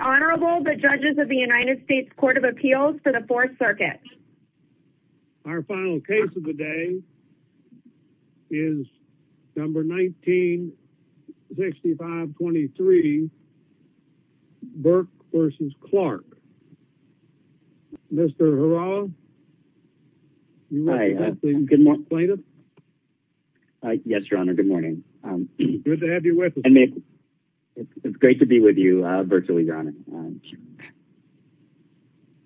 Honorable the judges of the United States Court of Appeals for the 4th Circuit. Our final case of the day is number 1965 23 Burke v. Clarke. Mr. Harald. Good morning plaintiff. Yes your honor good morning. It's great to be with you virtually your honor.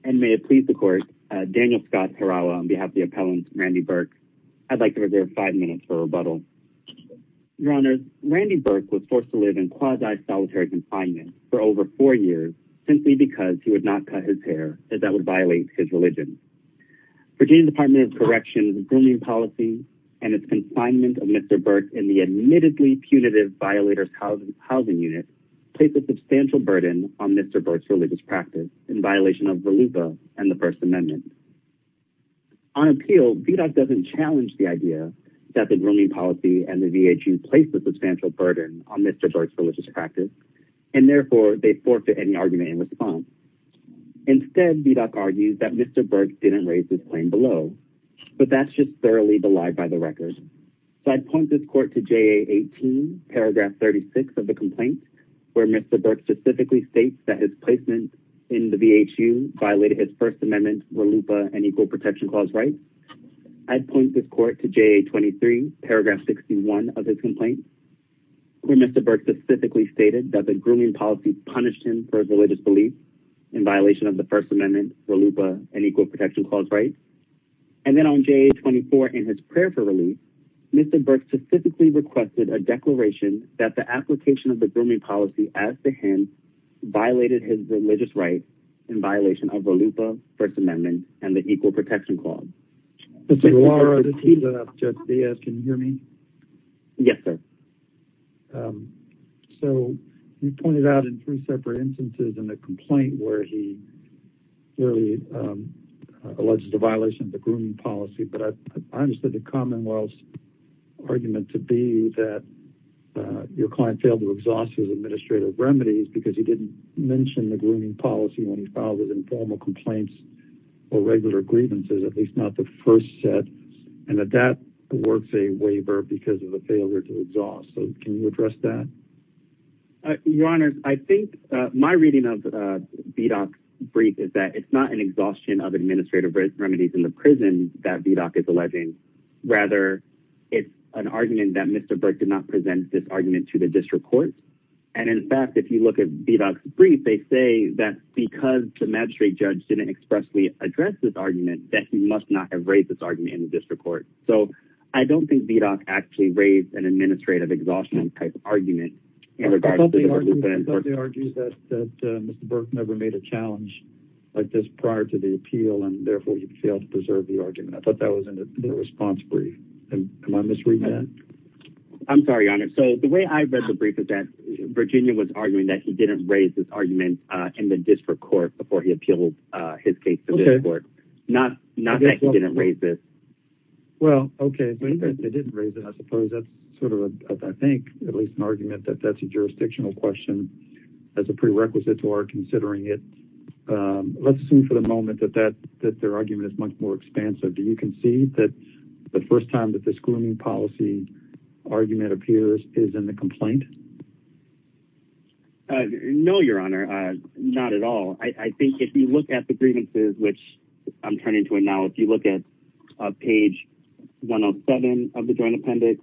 And may it please the court Daniel Scott Harald on behalf the appellant Randy Burke. I'd like to reserve five minutes for rebuttal. Your honors Randy Burke was forced to live in quasi solitary confinement for over four years simply because he would not cut his hair as that would violate his religion. Virginia Department of Corrections grooming policy and its confinement of Mr. Burke in the admittedly punitive violators housing unit placed a substantial burden on Mr. Burke's religious practice in violation of the Lupa and the First Amendment. On appeal VDOC doesn't challenge the idea that the grooming policy and the VHU placed a substantial burden on Mr. Burke's religious practice and therefore they forfeit any argument in response. Instead VDOC argues that Mr. Burke didn't raise this claim below but that's just thoroughly belied by the record. So I'd point this court to JA 18 paragraph 36 of the complaint where Mr. Burke specifically states that his placement in the VHU violated his First Amendment Lupa and Equal Protection Clause right. I'd point this court to JA 23 paragraph 61 of his complaint where Mr. Burke specifically stated that the grooming policy punished him for his religious belief in violation of the First Amendment Lupa and Equal Protection Clause right. And then on JA 24 in his for release Mr. Burke specifically requested a declaration that the application of the grooming policy as to him violated his religious rights in violation of the Lupa First Amendment and the Equal Protection Clause. Yes sir. So you pointed out in three separate instances in a complaint where he clearly alleged a violation of the grooming policy but I understood the Commonwealth's argument to be that your client failed to exhaust his administrative remedies because he didn't mention the grooming policy when he filed with informal complaints or regular grievances at least not the first set and that that works a waiver because of the failure to exhaust. So can you address that? Your Honor I think my reading of VDOC's brief is that it's not an exhaustion of administrative remedies in the prison that VDOC is rather it's an argument that Mr. Burke did not present this argument to the district court and in fact if you look at VDOC's brief they say that because the magistrate judge didn't expressly address this argument that he must not have raised this argument in the district court. So I don't think VDOC actually raised an administrative exhaustion type of argument in regard to the Lupa and Burke. I thought they argued that Mr. Burke never made a challenge like this prior to the appeal and therefore he failed to preserve the argument. I thought that was in the response brief. Am I misreading that? I'm sorry, Your Honor. So the way I read the brief is that Virginia was arguing that he didn't raise this argument in the district court before he appealed his case to the district court. Not that he didn't raise this. Well okay, but he didn't raise it I suppose. That's sort of I think at least an argument that that's a jurisdictional question as a prerequisite to our considering it. Let's assume for the moment that their argument is much more expansive. Do you concede that the first time that this grooming policy argument appears is in the complaint? No, Your Honor. Not at all. I think if you look at the grievances which I'm turning to it now if you look at page 107 of the Joint Appendix.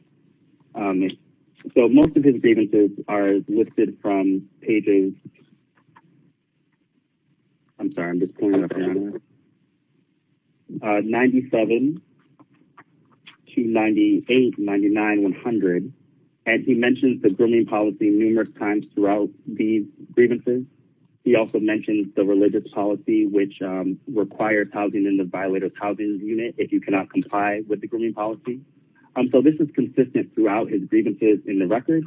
So most of his grievances are listed from pages 97 to 98, 99, 100 and he mentions the grooming policy numerous times throughout these grievances. He also mentions the religious policy which requires housing in the violators housing unit if you cannot comply with the grooming policy. So this is consistent throughout his grievances in the record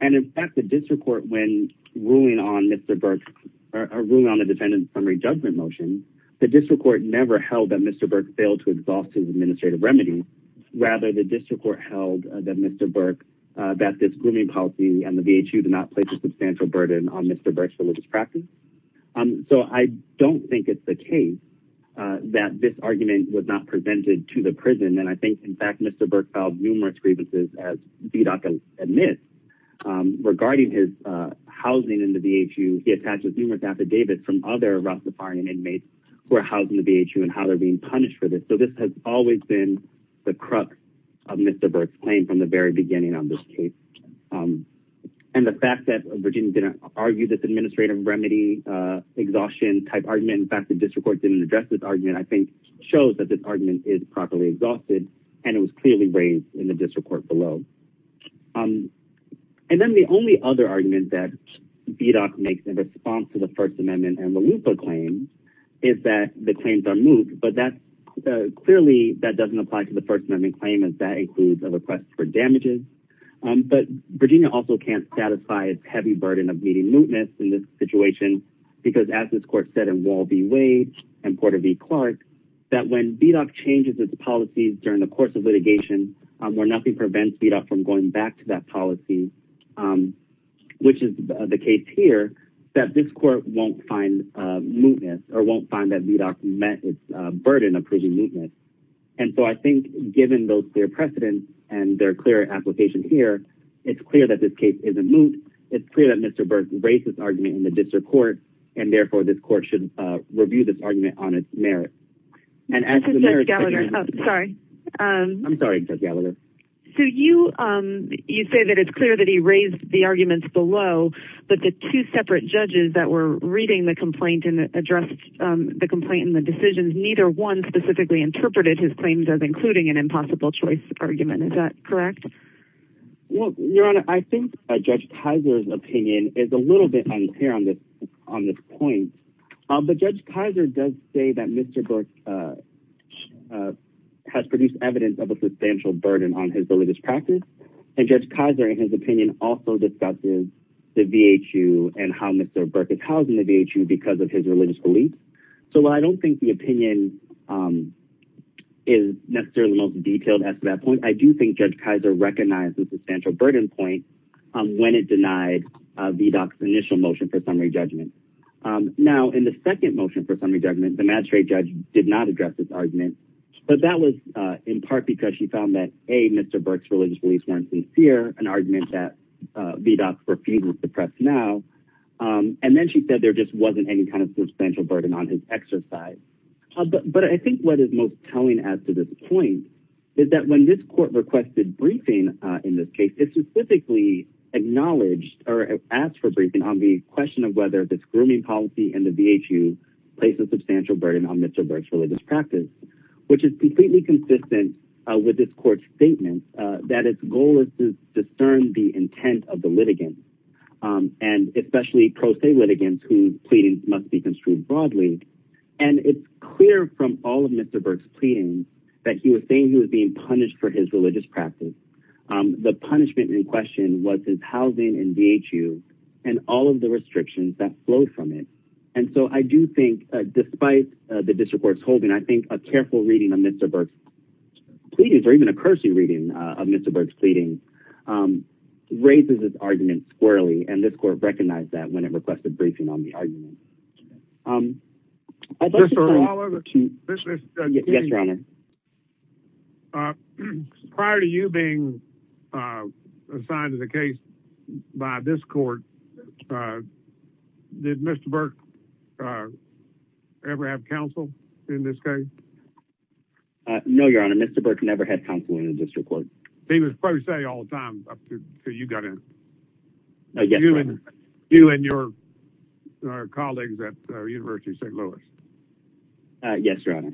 and in fact the district court when ruling on Mr. Burke's or ruling on the defendant's summary judgment motion the district court never held that Mr. Burke failed to exhaust his administrative remedy. Rather the district court held that Mr. Burke that this grooming policy and the VHU did not place a substantial burden on Mr. Burke's religious practice. So I don't think it's the case that this argument was not presented to the prison and I think in fact Mr. Burke filed numerous grievances as VDOT admits regarding his housing in the VHU. He attaches numerous affidavits from other Rastafarian inmates who are housed in the VHU and how they're being punished for this. So this has always been the crux of Mr. Burke's claim from the very beginning on this case and the fact that Virginia didn't argue this administrative remedy exhaustion type argument in fact the district court didn't address this argument I think shows that this argument is properly exhausted and it was clearly raised in the district court below. And then the only other argument that VDOT makes in response to the First Amendment and Lalupa claim is that the claims are moot but that's clearly that doesn't apply to the First Amendment claim as that includes a request for damages but Virginia also can't satisfy its heavy burden of meeting mootness in this case and Porter v. Clark that when VDOT changes its policies during the course of litigation where nothing prevents VDOT from going back to that policy which is the case here that this court won't find mootness or won't find that VDOT met its burden of approving mootness and so I think given those clear precedents and their clear application here it's clear that this case isn't moot it's clear that Mr. Burke raised this argument in the district court and therefore this argument on its merit. So you say that it's clear that he raised the arguments below but the two separate judges that were reading the complaint and addressed the complaint in the decisions neither one specifically interpreted his claims as including an impossible choice argument is that correct? Well your honor I think Judge Kaiser's opinion is a little bit unclear on this on this point but Judge Kaiser does say that Mr. Burke has produced evidence of a substantial burden on his religious practice and Judge Kaiser in his opinion also discusses the VHU and how Mr. Burke is housed in the VHU because of his religious beliefs so I don't think the opinion is necessarily the most detailed as to that point I do think Judge Kaiser recognized the substantial burden point when it denied VDOT's initial motion for summary judgment. Now in the second motion for summary judgment the magistrate judge did not address this argument but that was in part because she found that a Mr. Burke's religious beliefs weren't sincere an argument that VDOT's refuge was suppressed now and then she said there just wasn't any kind of substantial burden on his exercise but I think what is most telling as to this point is that when this court requested briefing in this case it specifically acknowledged or asked for briefing on the question of whether this grooming policy and the VHU place a substantial burden on Mr. Burke's religious practice which is completely consistent with this court's statement that its goal is to discern the intent of the litigants and especially pro se litigants whose pleadings must be construed broadly and it's clear from all of Mr. Burke's he was saying he was being punished for his religious practice the punishment in question was his housing and VHU and all of the restrictions that flowed from it and so I do think despite the district court's holding I think a careful reading of Mr. Burke's pleadings or even a cursory reading of Mr. Burke's pleadings raises this argument squarely and this court recognized that when it Prior to you being assigned to the case by this court did Mr. Burke ever have counsel in this case? No your honor Mr. Burke never had counsel in the district court. He was pro se all the time up to you got in. You and your colleagues at the University of St. Louis. Yes your honor.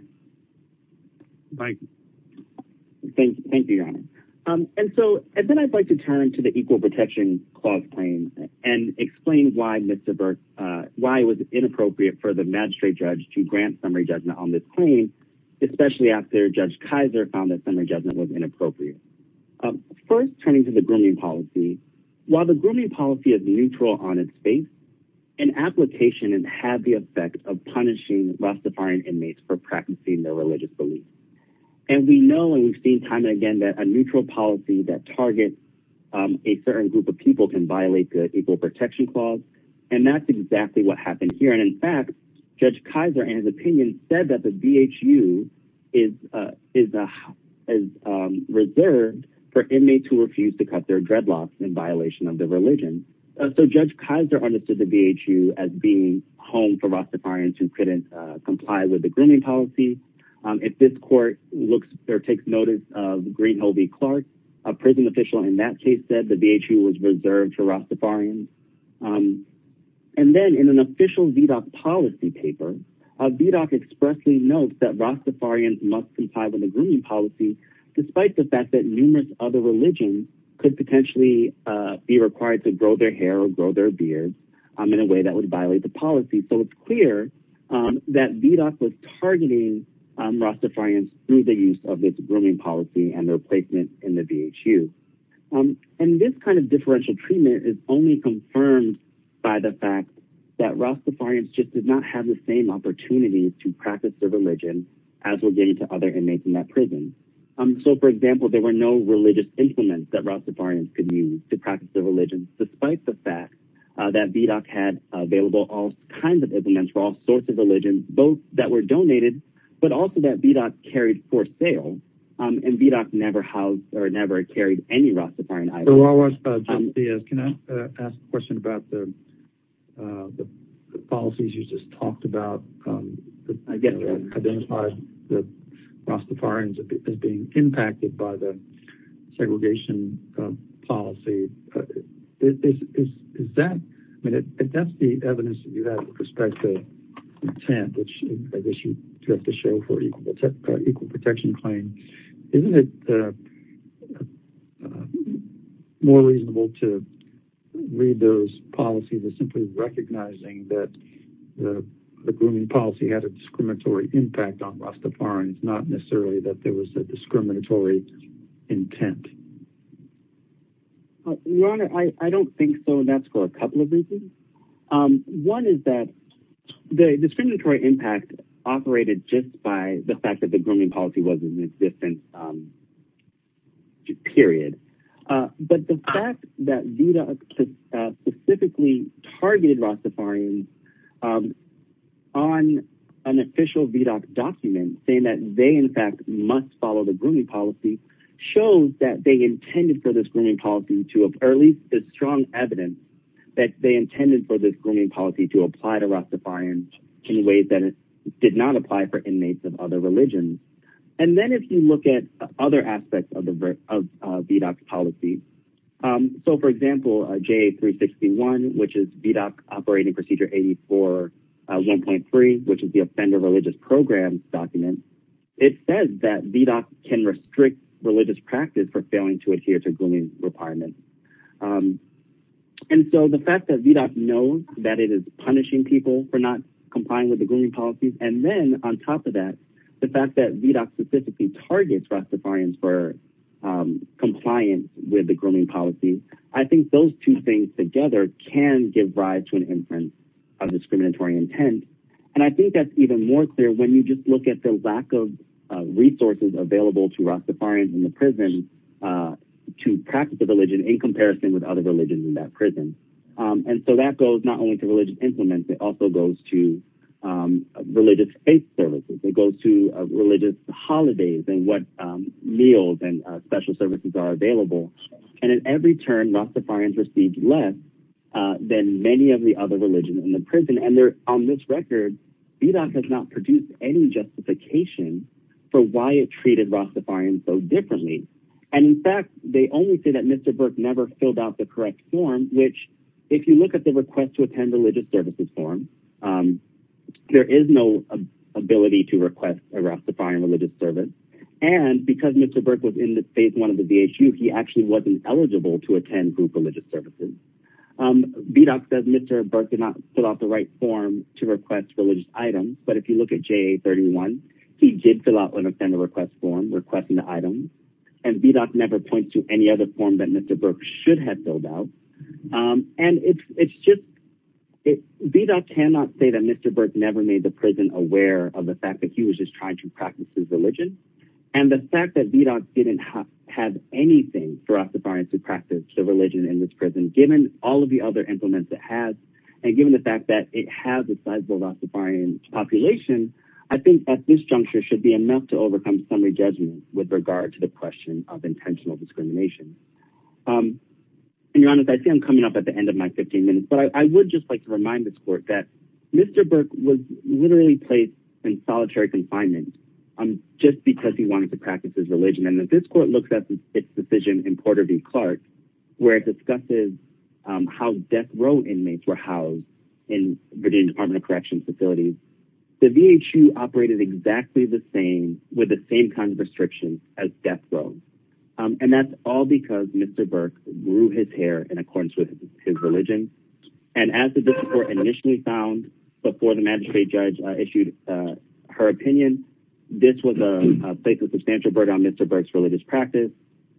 Thank you. Thank you your honor and so and then I'd like to turn to the equal protection clause claim and explain why Mr. Burke why it was inappropriate for the magistrate judge to grant summary judgment on this claim especially after Judge Kaiser found that summary judgment was inappropriate. First turning to the grooming policy while the grooming policy is neutral on its face an application and had the effect of punishing rastafarian inmates for practicing their religious beliefs and we know and we've seen time and again that a neutral policy that targets a certain group of people can violate the equal protection clause and that's exactly what happened here and in fact Judge Kaiser and his opinion said that the VHU is reserved for inmates who refuse to cut their dreadlocks in violation of the religion. So Judge Kaiser understood the VHU as being home for rastafarians who couldn't comply with the grooming policy. If this court looks or takes notice of Greenhove Clark a prison official in that case said the VHU was reserved for rastafarians and then in an official VDOC policy paper a VDOC expressly notes that rastafarians must comply with the grooming policy despite the fact that numerous other religions could potentially be required to grow their hair or grow their beard in a way that would violate the policy so it's clear that VDOC was targeting rastafarians through the use of this grooming policy and their placement in the VHU and this kind of differential treatment is only confirmed by the fact that rastafarians just did not have the same opportunities to practice their religion as were getting to other inmates in that prison. So for example there were no religious implements that rastafarians could use despite the fact that VDOC had available all kinds of implements for all sorts of religions both that were donated but also that VDOC carried for sale and VDOC never housed or never carried any rastafarian items. So while we're at it, Judge Diaz, can I ask a question about the policies you just talked about that identify rastafarians as being impacted by the segregation policy. If that's the evidence you have with respect to intent which I guess you have to show for equal protection claim, isn't it more reasonable to read those policies as simply recognizing that the grooming policy had a discriminatory impact on rastafarians not necessarily that there was a discriminatory intent? Your Honor, I don't think so and that's for a couple of reasons. One is that the discriminatory impact operated just by the fact that the grooming policy was in existence period. But the fact that VDOC specifically targeted rastafarians on an official document saying that they in fact must follow the grooming policy shows that they intended for this grooming policy to at least strong evidence that they intended for this grooming policy to apply to rastafarians in ways that it did not apply for inmates of other religions. And then if you look at other aspects of the VDOC policy, so for example, JA361 which is VDOC operating procedure 84.1.3 which is the offender religious program document, it says that VDOC can restrict religious practice for failing to adhere to grooming requirements. And so the fact that VDOC knows that it is punishing people for not complying with the grooming policies and then on top of that, the fact that VDOC specifically targets rastafarians for compliance with the grooming policy, I think those two things together can give rise to an inference of discriminatory intent. And I think that's even more clear when you just look at the lack of resources available to rastafarians in the prison to practice a religion in comparison with other religions in that prison. And so that goes not only to religious implements, it also goes to religious faith services. It goes to religious holidays and what meals and special services are available. And at every turn, rastafarians receive less than many of the other religions in the prison and on this record, VDOC has not produced any justification for why it treated rastafarians so differently. And in fact, they only say that Mr. Burke never filled out the correct form which if you look at the request to attend religious services form, there is no ability to request a rastafarian religious service and because Mr. Burke was in the phase one of the DHU, he actually wasn't eligible to attend group religious services. VDOC says Mr. Burke did not fill out the right form to request religious items, but if you look at JA-31, he did fill out an offender request form requesting the item and VDOC never points to any other form that Mr. Burke should have filled out. And it's just, VDOC cannot say that Mr. Burke never made the prison aware of the fact that he was just trying to practice his religion and the fact that VDOC didn't have anything for rastafarians to practice their religion in this prison given all of the other implements it has and given the fact that it has a sizable rastafarian population, I think that this juncture should be enough to overcome summary judgment with regard to the question of intentional discrimination. And I see I'm coming up at the end of my 15 minutes, but I would just like to remind this court that Mr. Burke was literally placed in solitary confinement just because he wanted to practice his religion. And if this court looks at its decision in Porter v. Clark, where it discusses how death row inmates were housed in Virginia Department of Corrections facilities, the VHU operated exactly the same with the same kind of restrictions as death row. And that's all because Mr. Burke grew his hair in accordance with his religion. And as the district court initially found before the magistrate judge issued her opinion, this was a place of substantial burden on Mr. Burke's religious practice.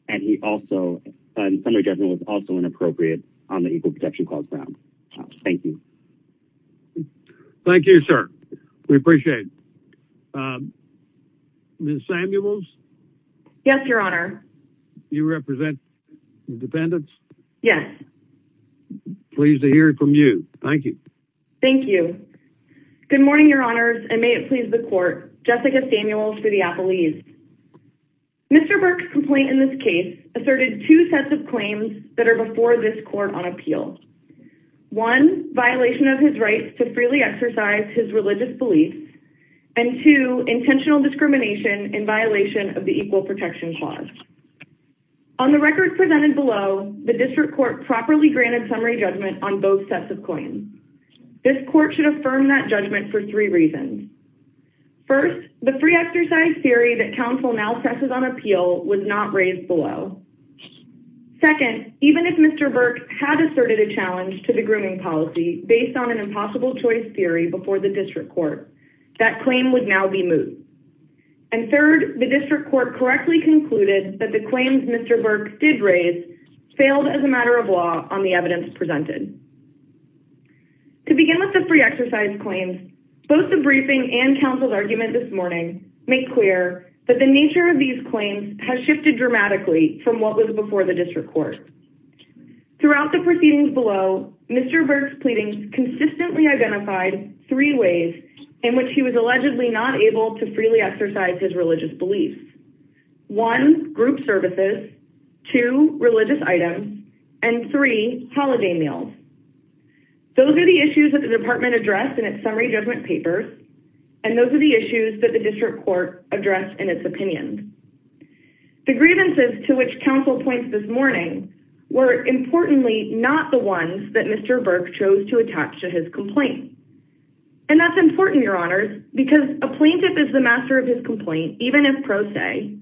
And he also, summary judgment was also inappropriate on the Equal Protection Clause grounds. Thank you. Thank you, sir. We appreciate it. Ms. Samuels? Yes, Your Honor. You represent the defendants? Yes. Pleased to hear from you. Thank you. Thank you. Good morning, Your Honors. And may it please the court, Jessica Samuels for the Apple East. Mr. Burke's complaint in this case asserted two sets of claims that are before this court on appeal. One, violation of his rights to freely exercise his religious beliefs. And two, intentional discrimination in violation of the Equal Protection Clause. On the record presented below, the district court properly granted summary judgment on both sets of claims. This court should affirm that judgment for three reasons. First, the free exercise theory that counsel now presses on appeal was not raised below. Second, even if Mr. Burke had asserted a challenge to the grooming policy based on an impossible choice theory before the district court, that claim would now be moved. And third, the district court correctly concluded that the claims Mr. Burke did raise failed as a matter of law on the evidence presented. To begin with the free exercise claims, both the briefing and counsel's argument this morning make clear that the nature of these claims has shifted dramatically from what was before the district court. Throughout the proceedings below, Mr. Burke's pleadings consistently identified three ways in which he was allegedly not able to freely exercise his religious beliefs. One, group services, two, religious items, and three, holiday meals. Those are the issues that the department addressed in its summary judgment papers. And those are the issues that the district court addressed in its opinions. The grievances to which counsel points this morning were importantly, not the ones that Mr. Burke chose to attach to his complaint. And that's important, your honors, because a plaintiff is the master of his complaint, even if pro se.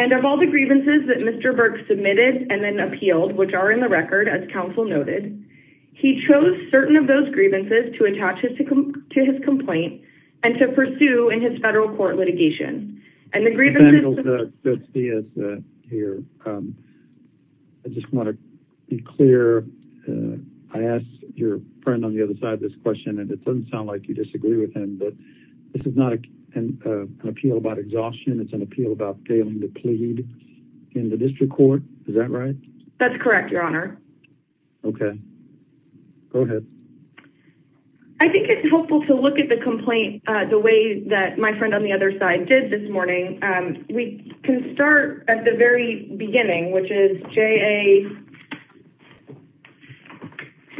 And of all the grievances that Mr. Burke submitted and then appealed, which are in the record as counsel noted, he chose certain of those grievances to attach to his complaint and to pursue in his federal court litigation. And the grievances... Samuel Garcia here. I just want to be clear. I asked your friend on the other side of this question, and it doesn't sound like you disagree with him, but this is not an appeal about exhaustion. It's an appeal about failing to plead in the district court. Is that right? That's correct, your honor. Okay. Go ahead. I think it's helpful to look at the complaint, uh, the way that my friend on the other side did this morning. Um, we can start at the very beginning, which is JA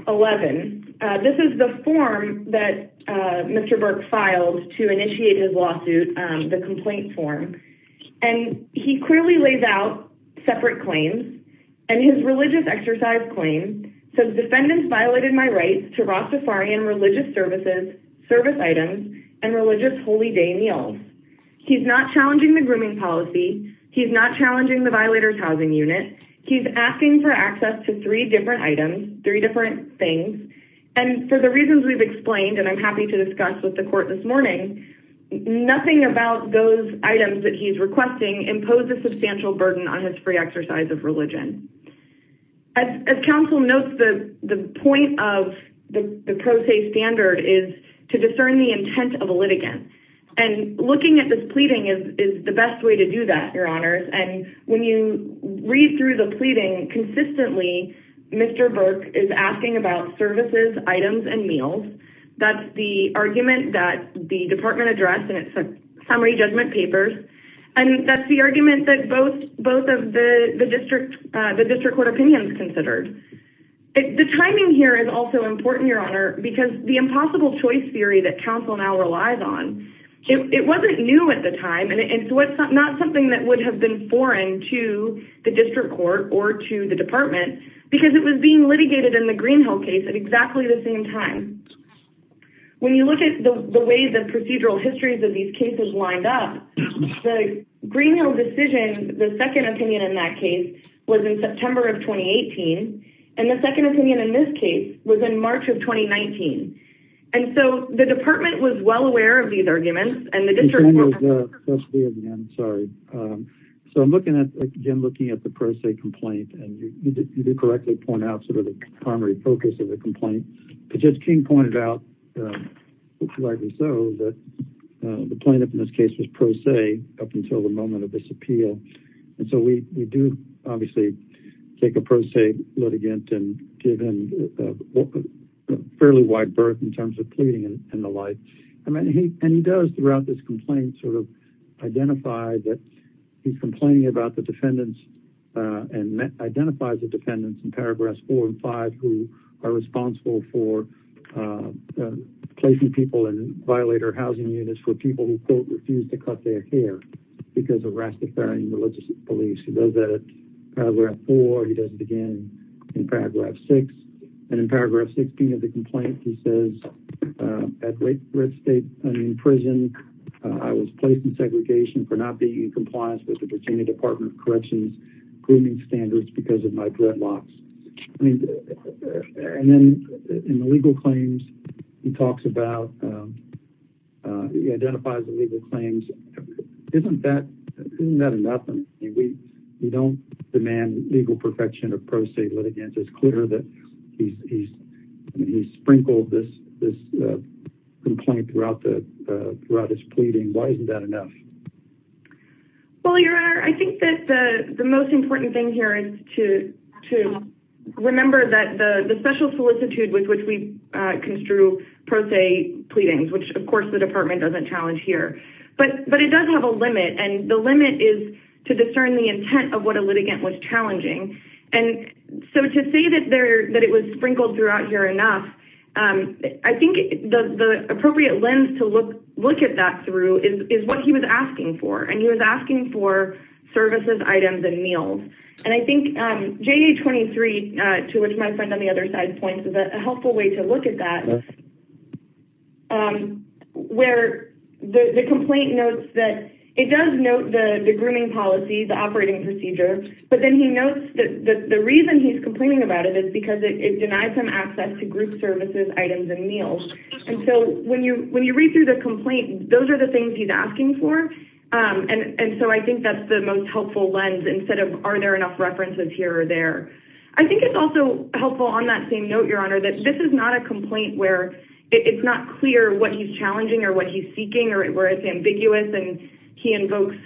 11. This is the form that, uh, Mr. Burke filed to initiate his lawsuit, um, the complaint form. And he clearly lays out separate claims and his religious exercise claim says defendants violated my rights to Rastafarian religious services, service items, and religious Holy day meals. He's not challenging the grooming policy. He's not challenging the violators housing unit. He's asking for access to three different items, three different things. And for the reasons we've explained, and I'm happy to discuss with the impose a substantial burden on his free exercise of religion. As counsel notes, the point of the pro se standard is to discern the intent of a litigant and looking at this pleading is the best way to do that, your honors. And when you read through the pleading consistently, Mr. Burke is asking about services, items, and meals. That's the argument that the department addressed and it's a summary judgment papers. And that's the argument that both, both of the district, uh, the district court opinions considered. The timing here is also important, your honor, because the impossible choice theory that counsel now relies on. It wasn't new at the time. And it's not something that would have been foreign to the district court or to the department because it was being litigated in the Greenhill case at exactly the same time. When you look at the way the procedural histories of these cases lined up, the Greenhill decision, the second opinion in that case was in September of 2018. And the second opinion in this case was in March of 2019. And so the department was well aware of these arguments and the district. So I'm looking at, again, looking at the pro se complaint and you did correctly point out sort of the primary focus of the complaint, but King pointed out, uh, likely so that, uh, the plaintiff in this case was pro se up until the moment of this appeal. And so we, we do obviously take a pro se litigant and give him a fairly wide berth in terms of pleading and the life. I mean, he, and he does throughout this complaint sort of identify that he's complaining about the defendants, uh, and identifies the dependents in paragraphs four and five, who are responsible for, uh, uh, placing people in violator housing units for people who quote, refused to cut their hair because of Rastafarian religious beliefs. He does that at paragraph four. He doesn't begin in paragraph six and in paragraph 16 of the complaint, he says, uh, at rate red state and in prison, uh, I was placed in segregation for not being in compliance with the Virginia department corrections grooming standards because of my dreadlocks. And then in the legal claims, he talks about, um, uh, he identifies the legal claims. Isn't that, isn't that enough? I mean, we, we don't demand legal perfection of pro se litigants. It's clear that he's, he's, he's sprinkled this, this, uh, complaint throughout the, uh, throughout his pleading. Why isn't that enough? Well, your honor, I think that the most important thing here is to, to remember that the, the special solicitude with which we, uh, construe pro se pleadings, which of course the department doesn't challenge here, but, but it does have a limit. And the limit is to discern the intent of what a litigant was challenging. And so to say that there, that it was sprinkled throughout here enough. Um, I think the appropriate lens to look, look at that through is what he was asking for, and he was asking for services, items, and meals. And I think, um, J 23, uh, to which my friend on the other side points is a helpful way to look at that. Um, where the complaint notes that it does note the grooming policies, the operating procedure. But then he notes that the reason he's complaining about it is because it denies him access to group services, items, and meals. And so when you, when you read through the complaint, those are the things he's asking for. Um, and, and so I think that's the most helpful lens instead of, are there enough references here or there? I think it's also helpful on that same note, your honor, that this is not a complaint where it's not clear what he's challenging or what he's seeking or where it's ambiguous. And he invokes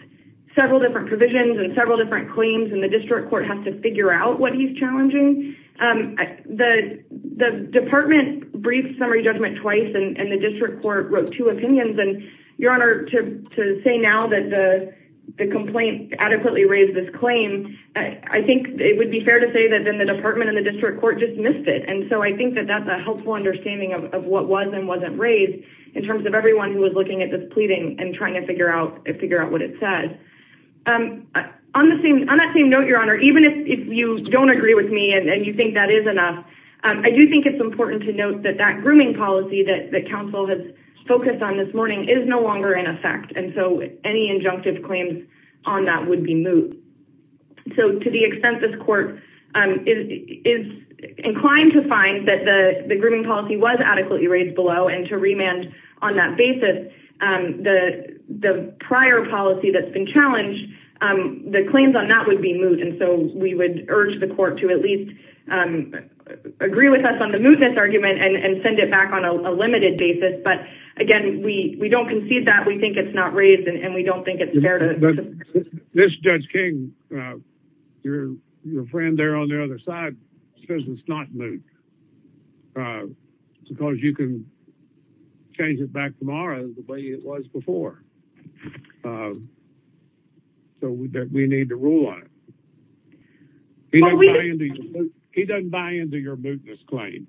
several different provisions and several different claims and the district court has to figure out what he's challenging. Um, the, the department brief summary judgment twice and the district court wrote two opinions and your honor to, to say now that the, the complaint adequately raised this claim. I think it would be fair to say that then the department and the district court just missed it. And so I think that that's a helpful understanding of what was and wasn't raised in terms of everyone who was looking at this pleading and trying to figure out and figure out what it says. Um, on the same, on that same note, your honor, even if you don't agree with me and you think that is enough. Um, I do think it's important to note that that grooming policy that the council has focused on this morning is no longer in effect. And so any injunctive claims on that would be moved. So to the extent this court, um, is inclined to find that the, the grooming policy was adequately raised below and to remand on that basis. Um, the, the prior policy that's been challenged, um, the claims on that would be moved. And so we would urge the court to at least, um, agree with us on the argument and, and send it back on a limited basis. But again, we, we don't concede that we think it's not raised and we don't think it's fair to this judge King, uh, your, your friend there on the other side says it's not. Uh, because you can change it back tomorrow the way it was before. Um, so we, we need to rule on it. He doesn't buy into your business claim.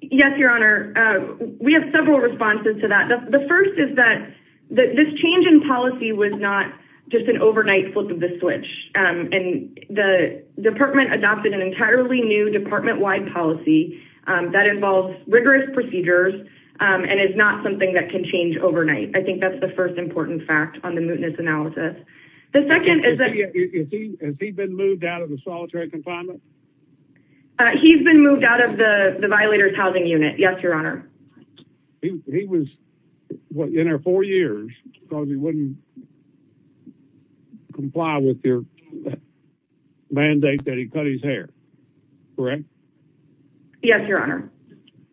Yes, your honor. Uh, we have several responses to that. The first is that this change in policy was not just an overnight flip of the switch, um, and the department adopted an entirely new department wide policy. Um, that involves rigorous procedures, um, and it's not something that can change overnight. I think that's the first important fact on the mootness analysis. The second is that he's been moved out of the solitary confinement. Uh, he's been moved out of the violators housing unit. Yes. Your honor. He was in our four years cause he wouldn't comply with your mandate that he cut his hair. Correct. Yes, your honor.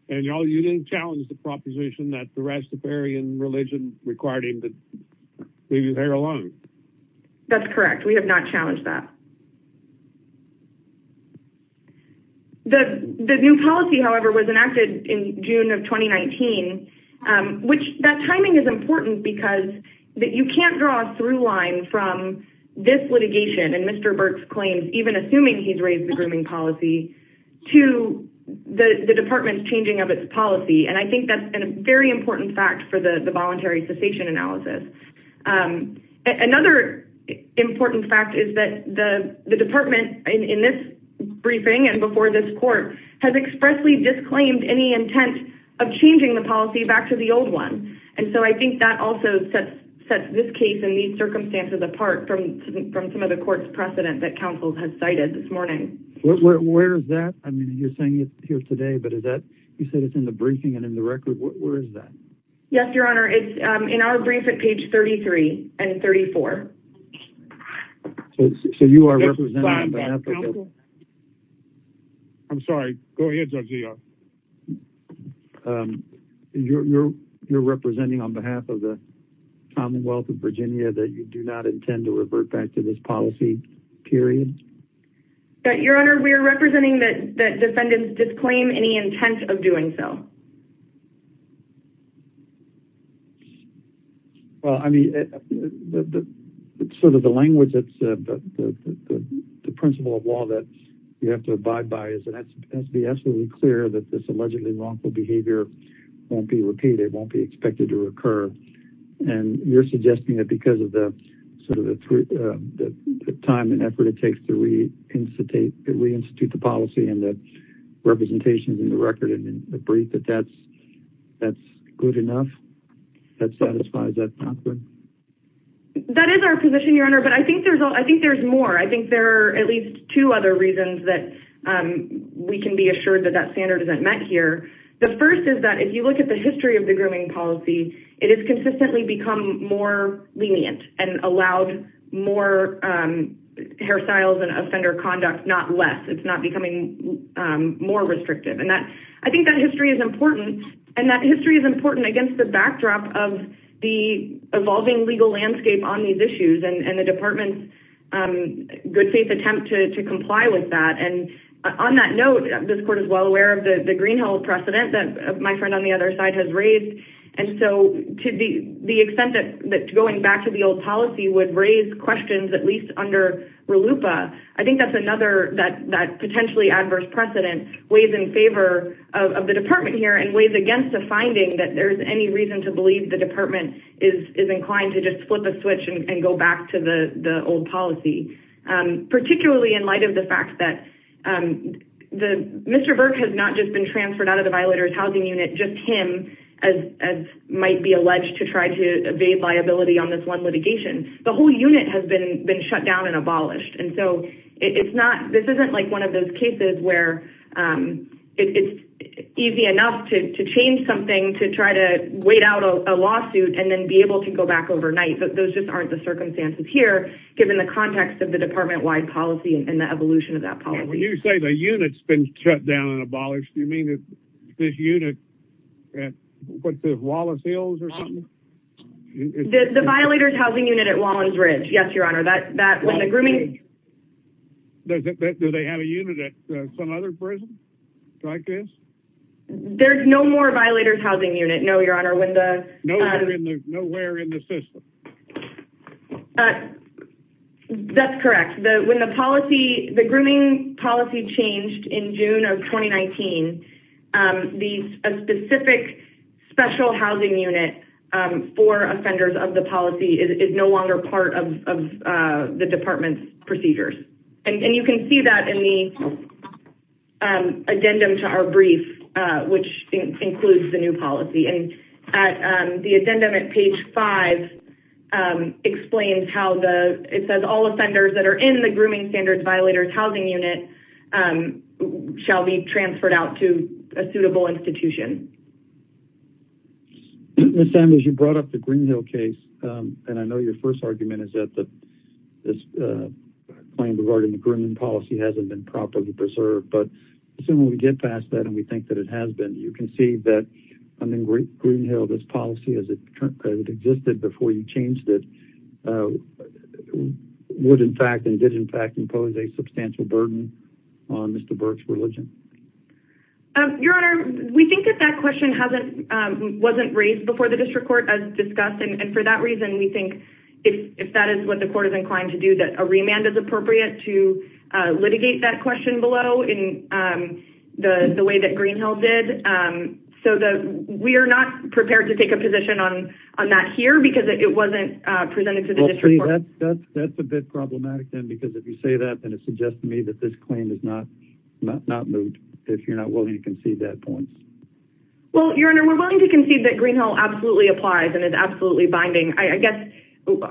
And y'all, you didn't challenge the proposition that the Rastafarian religion required him to leave his hair alone. That's correct. We have not challenged that. The new policy, however, was enacted in June of 2019, um, which that timing is important because that you can't draw a through line from this litigation. And Mr. Burke's claims, even assuming he's raised the grooming policy to the department's changing of its policy. And I think that's a very important fact for the voluntary cessation analysis. Um, another important fact is that the, the department in this briefing and before this court has expressly disclaimed any intent of changing the policy back to the old one. And so I think that also sets, sets this case and these circumstances apart from, from some of the court's precedent that counsel has cited this morning, where is that? I mean, you're saying it here today, but is that you said it's in the briefing and in the record, where is that? Yes. Your honor. It's, um, in our brief at page 33 and 34. So you are representing, I'm sorry, go ahead. Um, you're, you're, you're representing on behalf of the commonwealth of Virginia that you do not intend to revert back to this policy period. But your honor, we are representing that that defendants disclaim any intent of doing so. Well, I mean, sort of the language that's, uh, the, the, the, the principle of law that you have to abide by is that it has to be absolutely clear that this allegedly wrongful behavior won't be repeated, won't be expected to recur. And you're suggesting that because of the sort of the, uh, the time and effort it takes to reinstate, reinstitute the policy and the representations in the record and in the brief that that's, that's good enough. That satisfies that. That is our position, your honor. But I think there's, I think there's more. I think there are at least two other reasons that, um, we can be assured that that standard isn't met here. The first is that if you look at the history of the grooming policy, it has consistently become more lenient and allowed more, um, hairstyles and offender conduct, not less. It's not becoming, um, more restrictive. And that, I think that history is important and that history is important against the backdrop of the evolving legal landscape on these issues and the department's, um, good faith attempt to, to comply with that. And on that note, this court is well aware of the, the greenhill precedent that my friend on the other side has raised. And so to the, the extent that, that going back to the old policy would raise questions, at least under Ralupa. I think that's another, that, that potentially adverse precedent weighs in favor of the department here and weighs against the finding that there's any reason to believe the department is, is inclined to just flip a switch and go back to the old policy, um, particularly in light of the fact that, um, the Mr. Burke has not just been transferred out of the violators housing unit. Just him as, as might be alleged to try to evade liability on this one litigation, the whole unit has been, been shut down and abolished. And so it's not, this isn't like one of those cases where, um, it's easy enough to, to change something, to try to wait out a lawsuit and then be able to go back overnight. But those just aren't the circumstances here, given the context of the department wide policy and the evolution of that policy, when you say the unit's been shut down and abolished, you mean that this unit at what the Wallace Hills or something, the violators housing unit at Wallace Ridge. Yes, your honor. That, that was a grooming. Does it, do they have a unit at some other prison like this? There's no more violators housing unit. No, your honor. When the, uh, that's correct. The, when the policy, the grooming policy changed in June of 2019, um, these, a specific special housing unit, um, for offenders of the policy is no longer part of, of, uh, the department's procedures. And you can see that in the, um, addendum to our brief, uh, which includes the new policy and at, um, the addendum at page five, um, explains how the, it says all offenders that are in the grooming standards violators housing unit, um, shall be transferred out to a suitable institution. Ms. Sam, as you brought up the Greenhill case, um, and I know your first argument is that the, this, uh, claim regarding the grooming policy hasn't been properly preserved, but assuming we get past that and we think that it has been, you can see that I mean, Greenhill, this policy as it existed before you changed it, uh, would in fact, and did in fact impose a substantial burden on Mr. Burke's religion. Um, your honor, we think that that question hasn't, um, wasn't raised before the district court as discussed. And for that reason, we think if that is what the court is inclined to do, that a remand is appropriate to, uh, litigate that question below in, um, the, the way that Greenhill did. Um, so the, we are not prepared to take a position on, on that here because it wasn't, uh, presented to the district court. That's a bit problematic then, because if you say that, then it suggests to me that this claim is not, not moved if you're not willing to concede that point. Well, your honor, we're willing to concede that Greenhill absolutely applies and is absolutely binding. I guess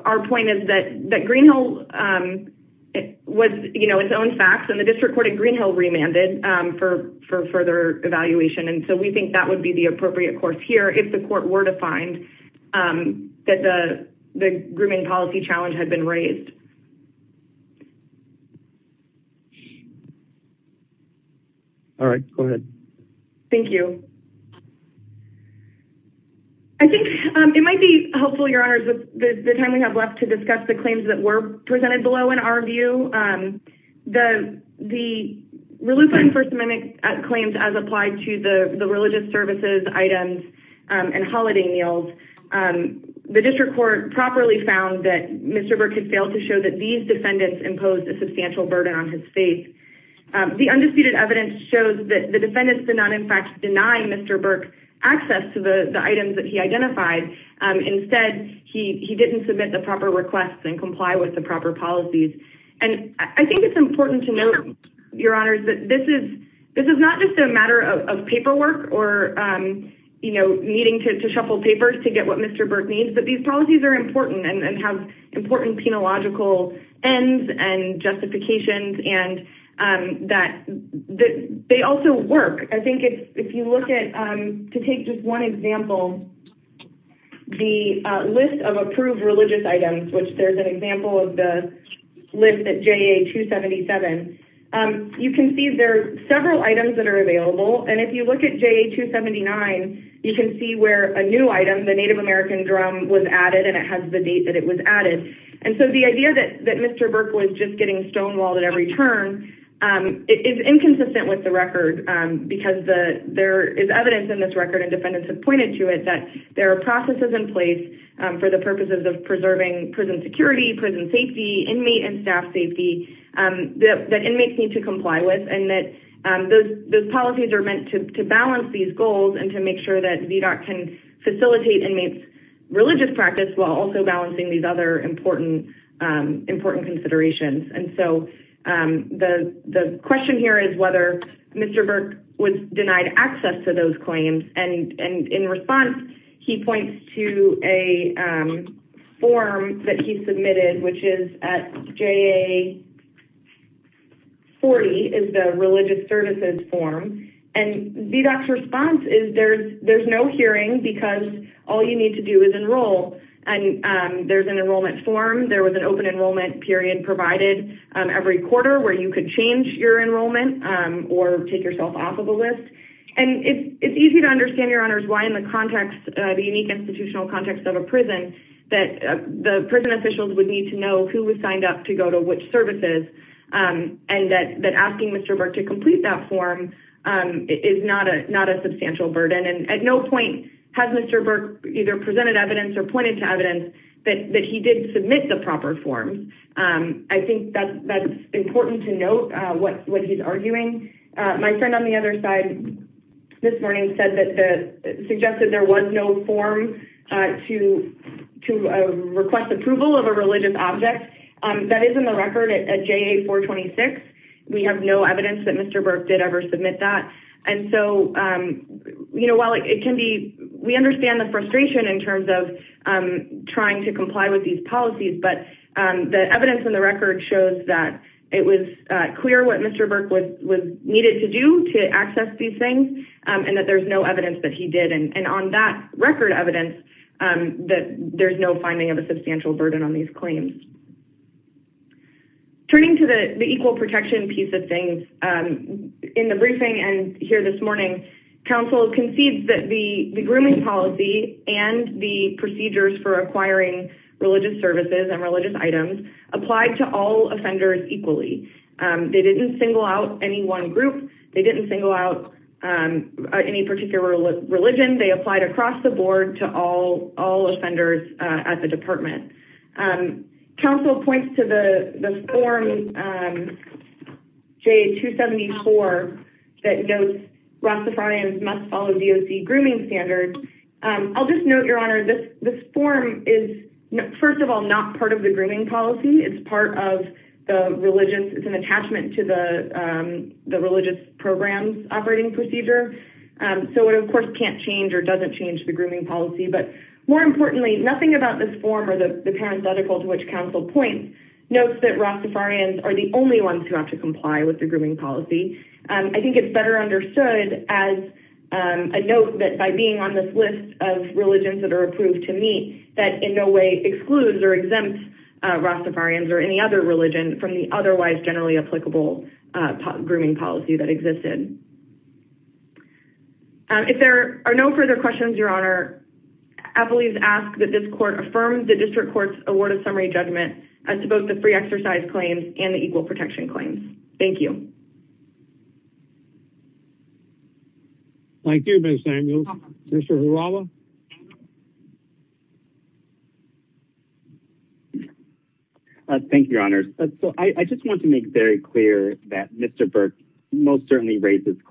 our point is that, that Greenhill, um, it was, you know, its own facts and the district court at Greenhill remanded, um, for, for further evaluation. And so we think that would be the appropriate course here. If the court were to find, um, that the, the grooming policy challenge had been raised. All right, go ahead. Thank you. I think, um, it might be helpful, your honors, the time we have left to discuss the claims that were presented below in our view, um, the, the. Relief on first amendment claims as applied to the religious services items, um, and holiday meals. Um, the district court properly found that Mr. Burke had failed to show that these defendants imposed a substantial burden on his faith. Um, the undisputed evidence shows that the defendants did not, in fact, deny Mr. Burke access to the items that he identified. Um, instead he, he didn't submit the proper requests and comply with the proper policies. And I think it's important to know your honors that this is, this is not just a matter of paperwork or, um, you know, needing to shuffle papers to get what Mr. Burke needs, but these policies are important and have important penological ends and justifications. And, um, that they also work. I think it's, if you look at, um, to take just one example, the list of approved religious items, which there's an example of the list that JA 277. Um, you can see there are several items that are available. And if you look at JA 279, you can see where a new item, the native American drum was added. And it has the date that it was added. And so the idea that, that Mr. Burke was just getting stonewalled at every turn, um, is inconsistent with the record, um, because the, there is evidence in this record and defendants have pointed to it, that there are processes in place, um, for the purposes of preserving prison security, prison safety, inmate and staff safety, um, that, that inmates need to comply with. And that, um, those, those policies are meant to balance these goals and to make sure that VDOT can facilitate inmates religious practice while also balancing these other important, um, important considerations. And so, um, the, the question here is whether Mr. Burke was denied access to those claims. And, and in response, he points to a, um, form that he submitted, which is at JA 40 is the religious services form and VDOT's response is there's, there's no hearing because all you need to do is enroll. And, um, there's an enrollment form. There was an open enrollment period provided, um, every quarter where you could change your enrollment, um, or take yourself off of a list. And it's, it's easy to understand your honors. Why in the context, uh, the unique institutional context of a prison that the prison officials would need to know who was signed up to go to which services, um, and that, that asking Mr. Burke to complete that form, um, is not a, not a substantial burden. And at no point has Mr. Burke either presented evidence or pointed to evidence that, that he did submit the proper forms. Um, I think that that's important to note, uh, what, what he's arguing. Uh, my friend on the other side this morning said that the suggested there was no form, uh, to, to, uh, request approval of a religious object. Um, that is in the record at JA 426. We have no evidence that Mr. Burke did ever submit that. And so, um, you know, while it can be, we understand the frustration in terms of, um, trying to comply with these policies, but, um, the evidence in the record shows that it was clear what Mr. Burke was, was needed to do to access these things. Um, and that there's no evidence that he did. And on that record evidence, um, that there's no finding of a substantial burden on these claims. Turning to the equal protection piece of things, um, in the briefing and here this morning, counsel concedes that the grooming policy and the procedures for acquiring religious services and religious items applied to all offenders equally. Um, they didn't single out any one group. They didn't single out, um, any particular religion. They applied across the board to all, all offenders, uh, at the department. Um, counsel points to the, the form, um, J two 74, that knows Ross the front ends must follow the OC grooming standard. Um, I'll just note your honor. This, this form is first of all, not part of the grooming policy. It's part of the religious, it's an attachment to the, um, the religious programs operating procedure. Um, so it of course can't change or doesn't change the grooming policy, but more importantly, nothing about this form or the parenthetical to which counsel points notes that Ross the front ends are the only ones who have to comply with the grooming policy. Um, I think it's better understood as, um, a note that by being on this list of religions that are approved to meet that in no way excludes or exempt, uh, Ross the front ends or any other religion from the otherwise generally applicable, uh, grooming policy that existed. Um, if there are no further questions, your honor, I believe, ask that this court affirmed the district court's award of summary judgment as to both the free exercise claims and the equal protection claims. Thank you. Thank you. Ms. Samuel, Mr. Hulawa. Thank you, your honors. So I just want to make very clear that Mr.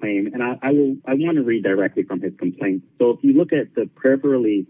and I will, I want to read directly from his complaint. So if you look at the prayer for relief,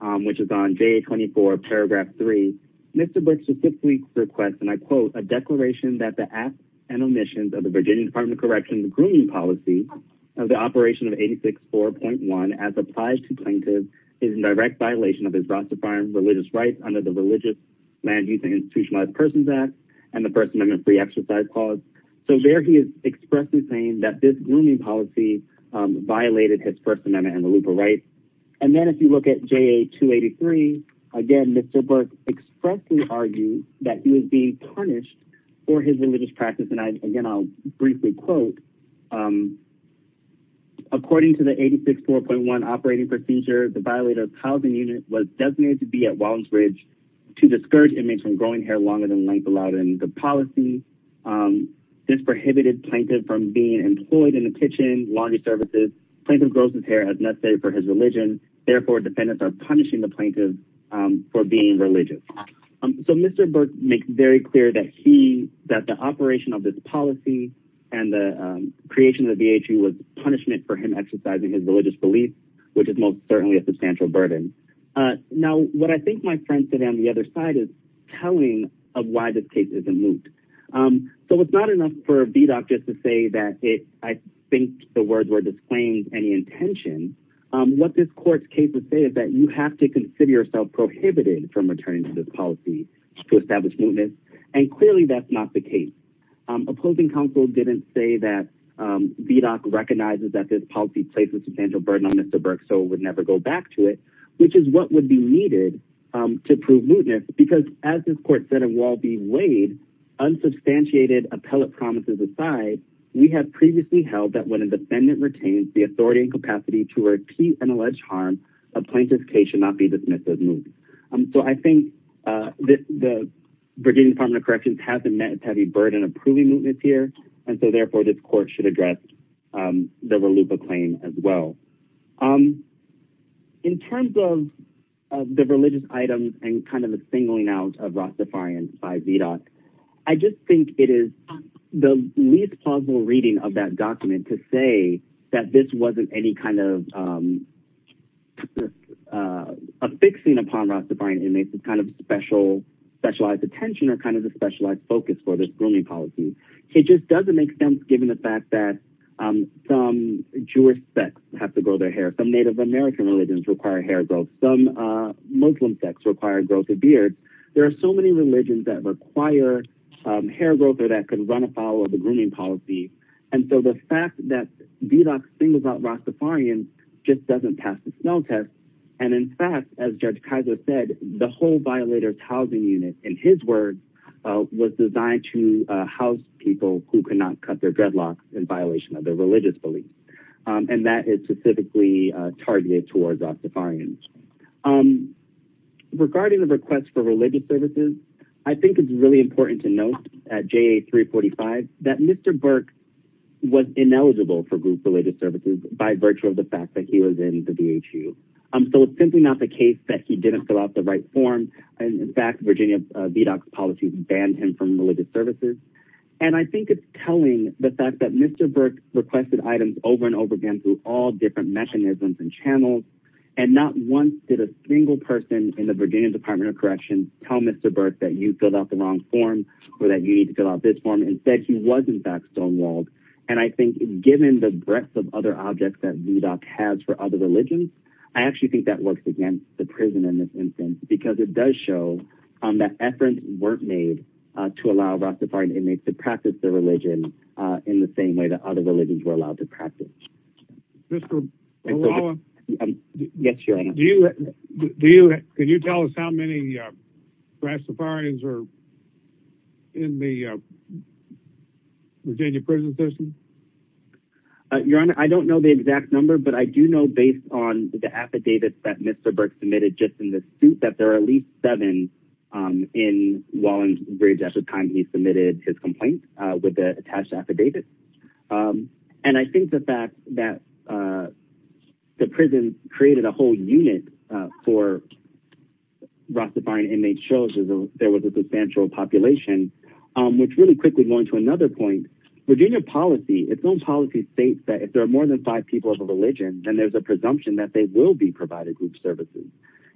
um, which is on J 24 paragraph three, Mr. Brooks, the six weeks request. And I quote a declaration that the acts and omissions of the Virginia department of correction, the grooming policy of the operation of 86, 4.1 as applied to plaintiff is in direct violation of his roster farm religious rights under the religious land use and institutionalized persons act and the first amendment free exercise clause. So there he is expressly saying that this grooming policy, um, violated his first amendment and the loop. Right. And then if you look at J 2 83, again, Mr. Burke expressly argued that he was being punished for his religious practice. And I, again, I'll briefly quote, um, according to the 86, 4.1 operating procedure, the violator housing unit was designated to be at Walden's Ridge to discourage inmates from growing hair longer than length allowed in the policy. Um, this prohibited plaintiff from being employed in the kitchen, laundry services. Plaintiff grows his hair as necessary for his religion. Therefore, defendants are punishing the plaintiff, um, for being religious. So Mr. Burke makes very clear that he, that the operation of this policy and the, um, creation of the VHU was punishment for him exercising his religious beliefs, which is most certainly a substantial burden. Uh, now what I think my friends sit on the other side is telling of why this case is a moot. Um, so it's not enough for VDOC just to say that it, I think the words were disclaimed any intention. Um, what this court's cases say is that you have to consider yourself prohibited from returning to this policy to establish movement. And clearly that's not the case. Um, opposing counsel didn't say that, um, VDOC recognizes that this policy places substantial burden on Mr. Burke, so it would never go back to it, which is what would be needed. Um, to prove mootness because as this court said, and while be weighed unsubstantiated appellate promises aside, we have previously held that when a defendant retains the authority and capacity to repeat an alleged harm, a plaintiff's case should not be dismissed as moot. Um, so I think, uh, the, the Virginia Department of Corrections hasn't met a heavy burden of proving mootness here. And so therefore this court should address, um, the RLUPA claim as well. Um, in terms of the religious items and kind of the singling out of I just think it is the least plausible reading of that document to say that this wasn't any kind of, um, uh, affixing upon Rastafarian inmates is kind of special specialized attention or kind of a specialized focus for this grooming policy. It just doesn't make sense. Given the fact that, um, some Jewish sects have to grow their hair, some native American religions require hair growth, some, uh, Muslim sects require growth of beard. There are so many religions that require, um, hair growth or that could run afoul of the grooming policy. And so the fact that VDOC singles out Rastafarians just doesn't pass the smell test. And in fact, as judge Kaiser said, the whole violators housing unit, in his word, uh, was designed to, uh, house people who could not cut their dreadlocks in violation of their religious beliefs. Um, and that is specifically targeted towards Rastafarians. Um, regarding the request for religious services, I think it's really important to note at JA 345 that Mr. Burke was ineligible for group related services by virtue of the fact that he was in the VHU. Um, so it's simply not the case that he didn't fill out the right form. And in fact, Virginia VDOC policies banned him from religious services. And I think it's telling the fact that Mr. Burke requested items over and over again, through all different mechanisms and channels. And not once did a single person in the Virginia department of corrections tell Mr. Burke that you filled out the wrong form or that you need to fill out this form. And instead he wasn't back stonewalled. And I think given the breadth of other objects that VDOC has for other religions, I actually think that works against the prison in this instance, because it does show that efforts weren't made to allow Rastafarian inmates to practice their religion, uh, in the same way that other religions were allowed to practice. Mr. Wallen, can you tell us how many, uh, Rastafarians are in the, uh, Virginia prison system? Uh, your honor, I don't know the exact number, but I do know based on the affidavits that Mr. Burke submitted just in the suit that there are at least seven, um, in Wallenbridge at the time he submitted his complaint, uh, with the attached affidavit. Um, and I think the fact that, uh, the prison created a whole unit, uh, for Rastafarian inmates shows there was a substantial population, um, which really quickly going to another point, Virginia policy, it's known policy states that if there are more than five people of a religion, then there's a presumption that they will be provided group services.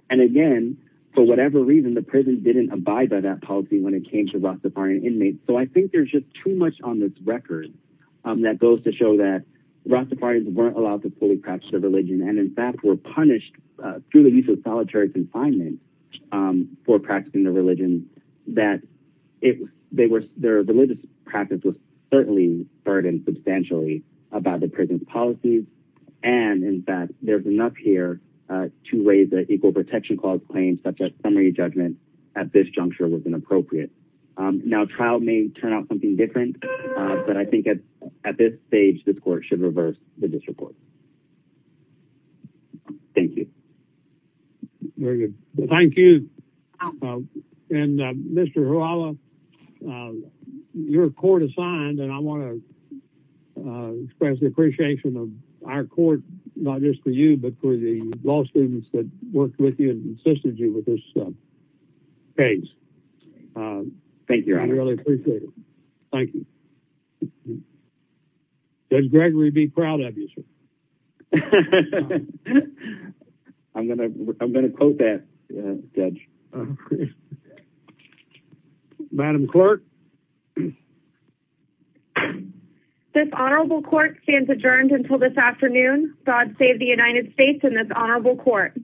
And again, for whatever reason, the prison didn't abide by that policy when it came to Rastafarian inmates. So I think there's just too much on this record, um, that goes to show that Rastafarians weren't allowed to fully practice their religion. And in fact, we're punished, uh, through the use of solitary confinement, um, for practicing the religion that if they were, their religious practice was certainly burdened substantially about the prison policies. And in fact, there's enough here, uh, two ways that equal protection clause claims, such as summary judgment at this juncture was inappropriate. Um, now trial may turn out something different, but I think at this stage, this court should reverse the district court. Thank you. Very good. Thank you. Uh, and, uh, Mr. Huala, uh, your court assigned, and I want to, uh, express the appreciation of our court, not just for you, but for the law students that worked with you and assisted you with this case. Um, thank you. I really appreciate it. Thank you. Does Gregory be proud of you, sir? I'm going to, I'm going to quote that judge. Madam clerk. This honorable court stands adjourned until this afternoon. God save the United States and this honorable court.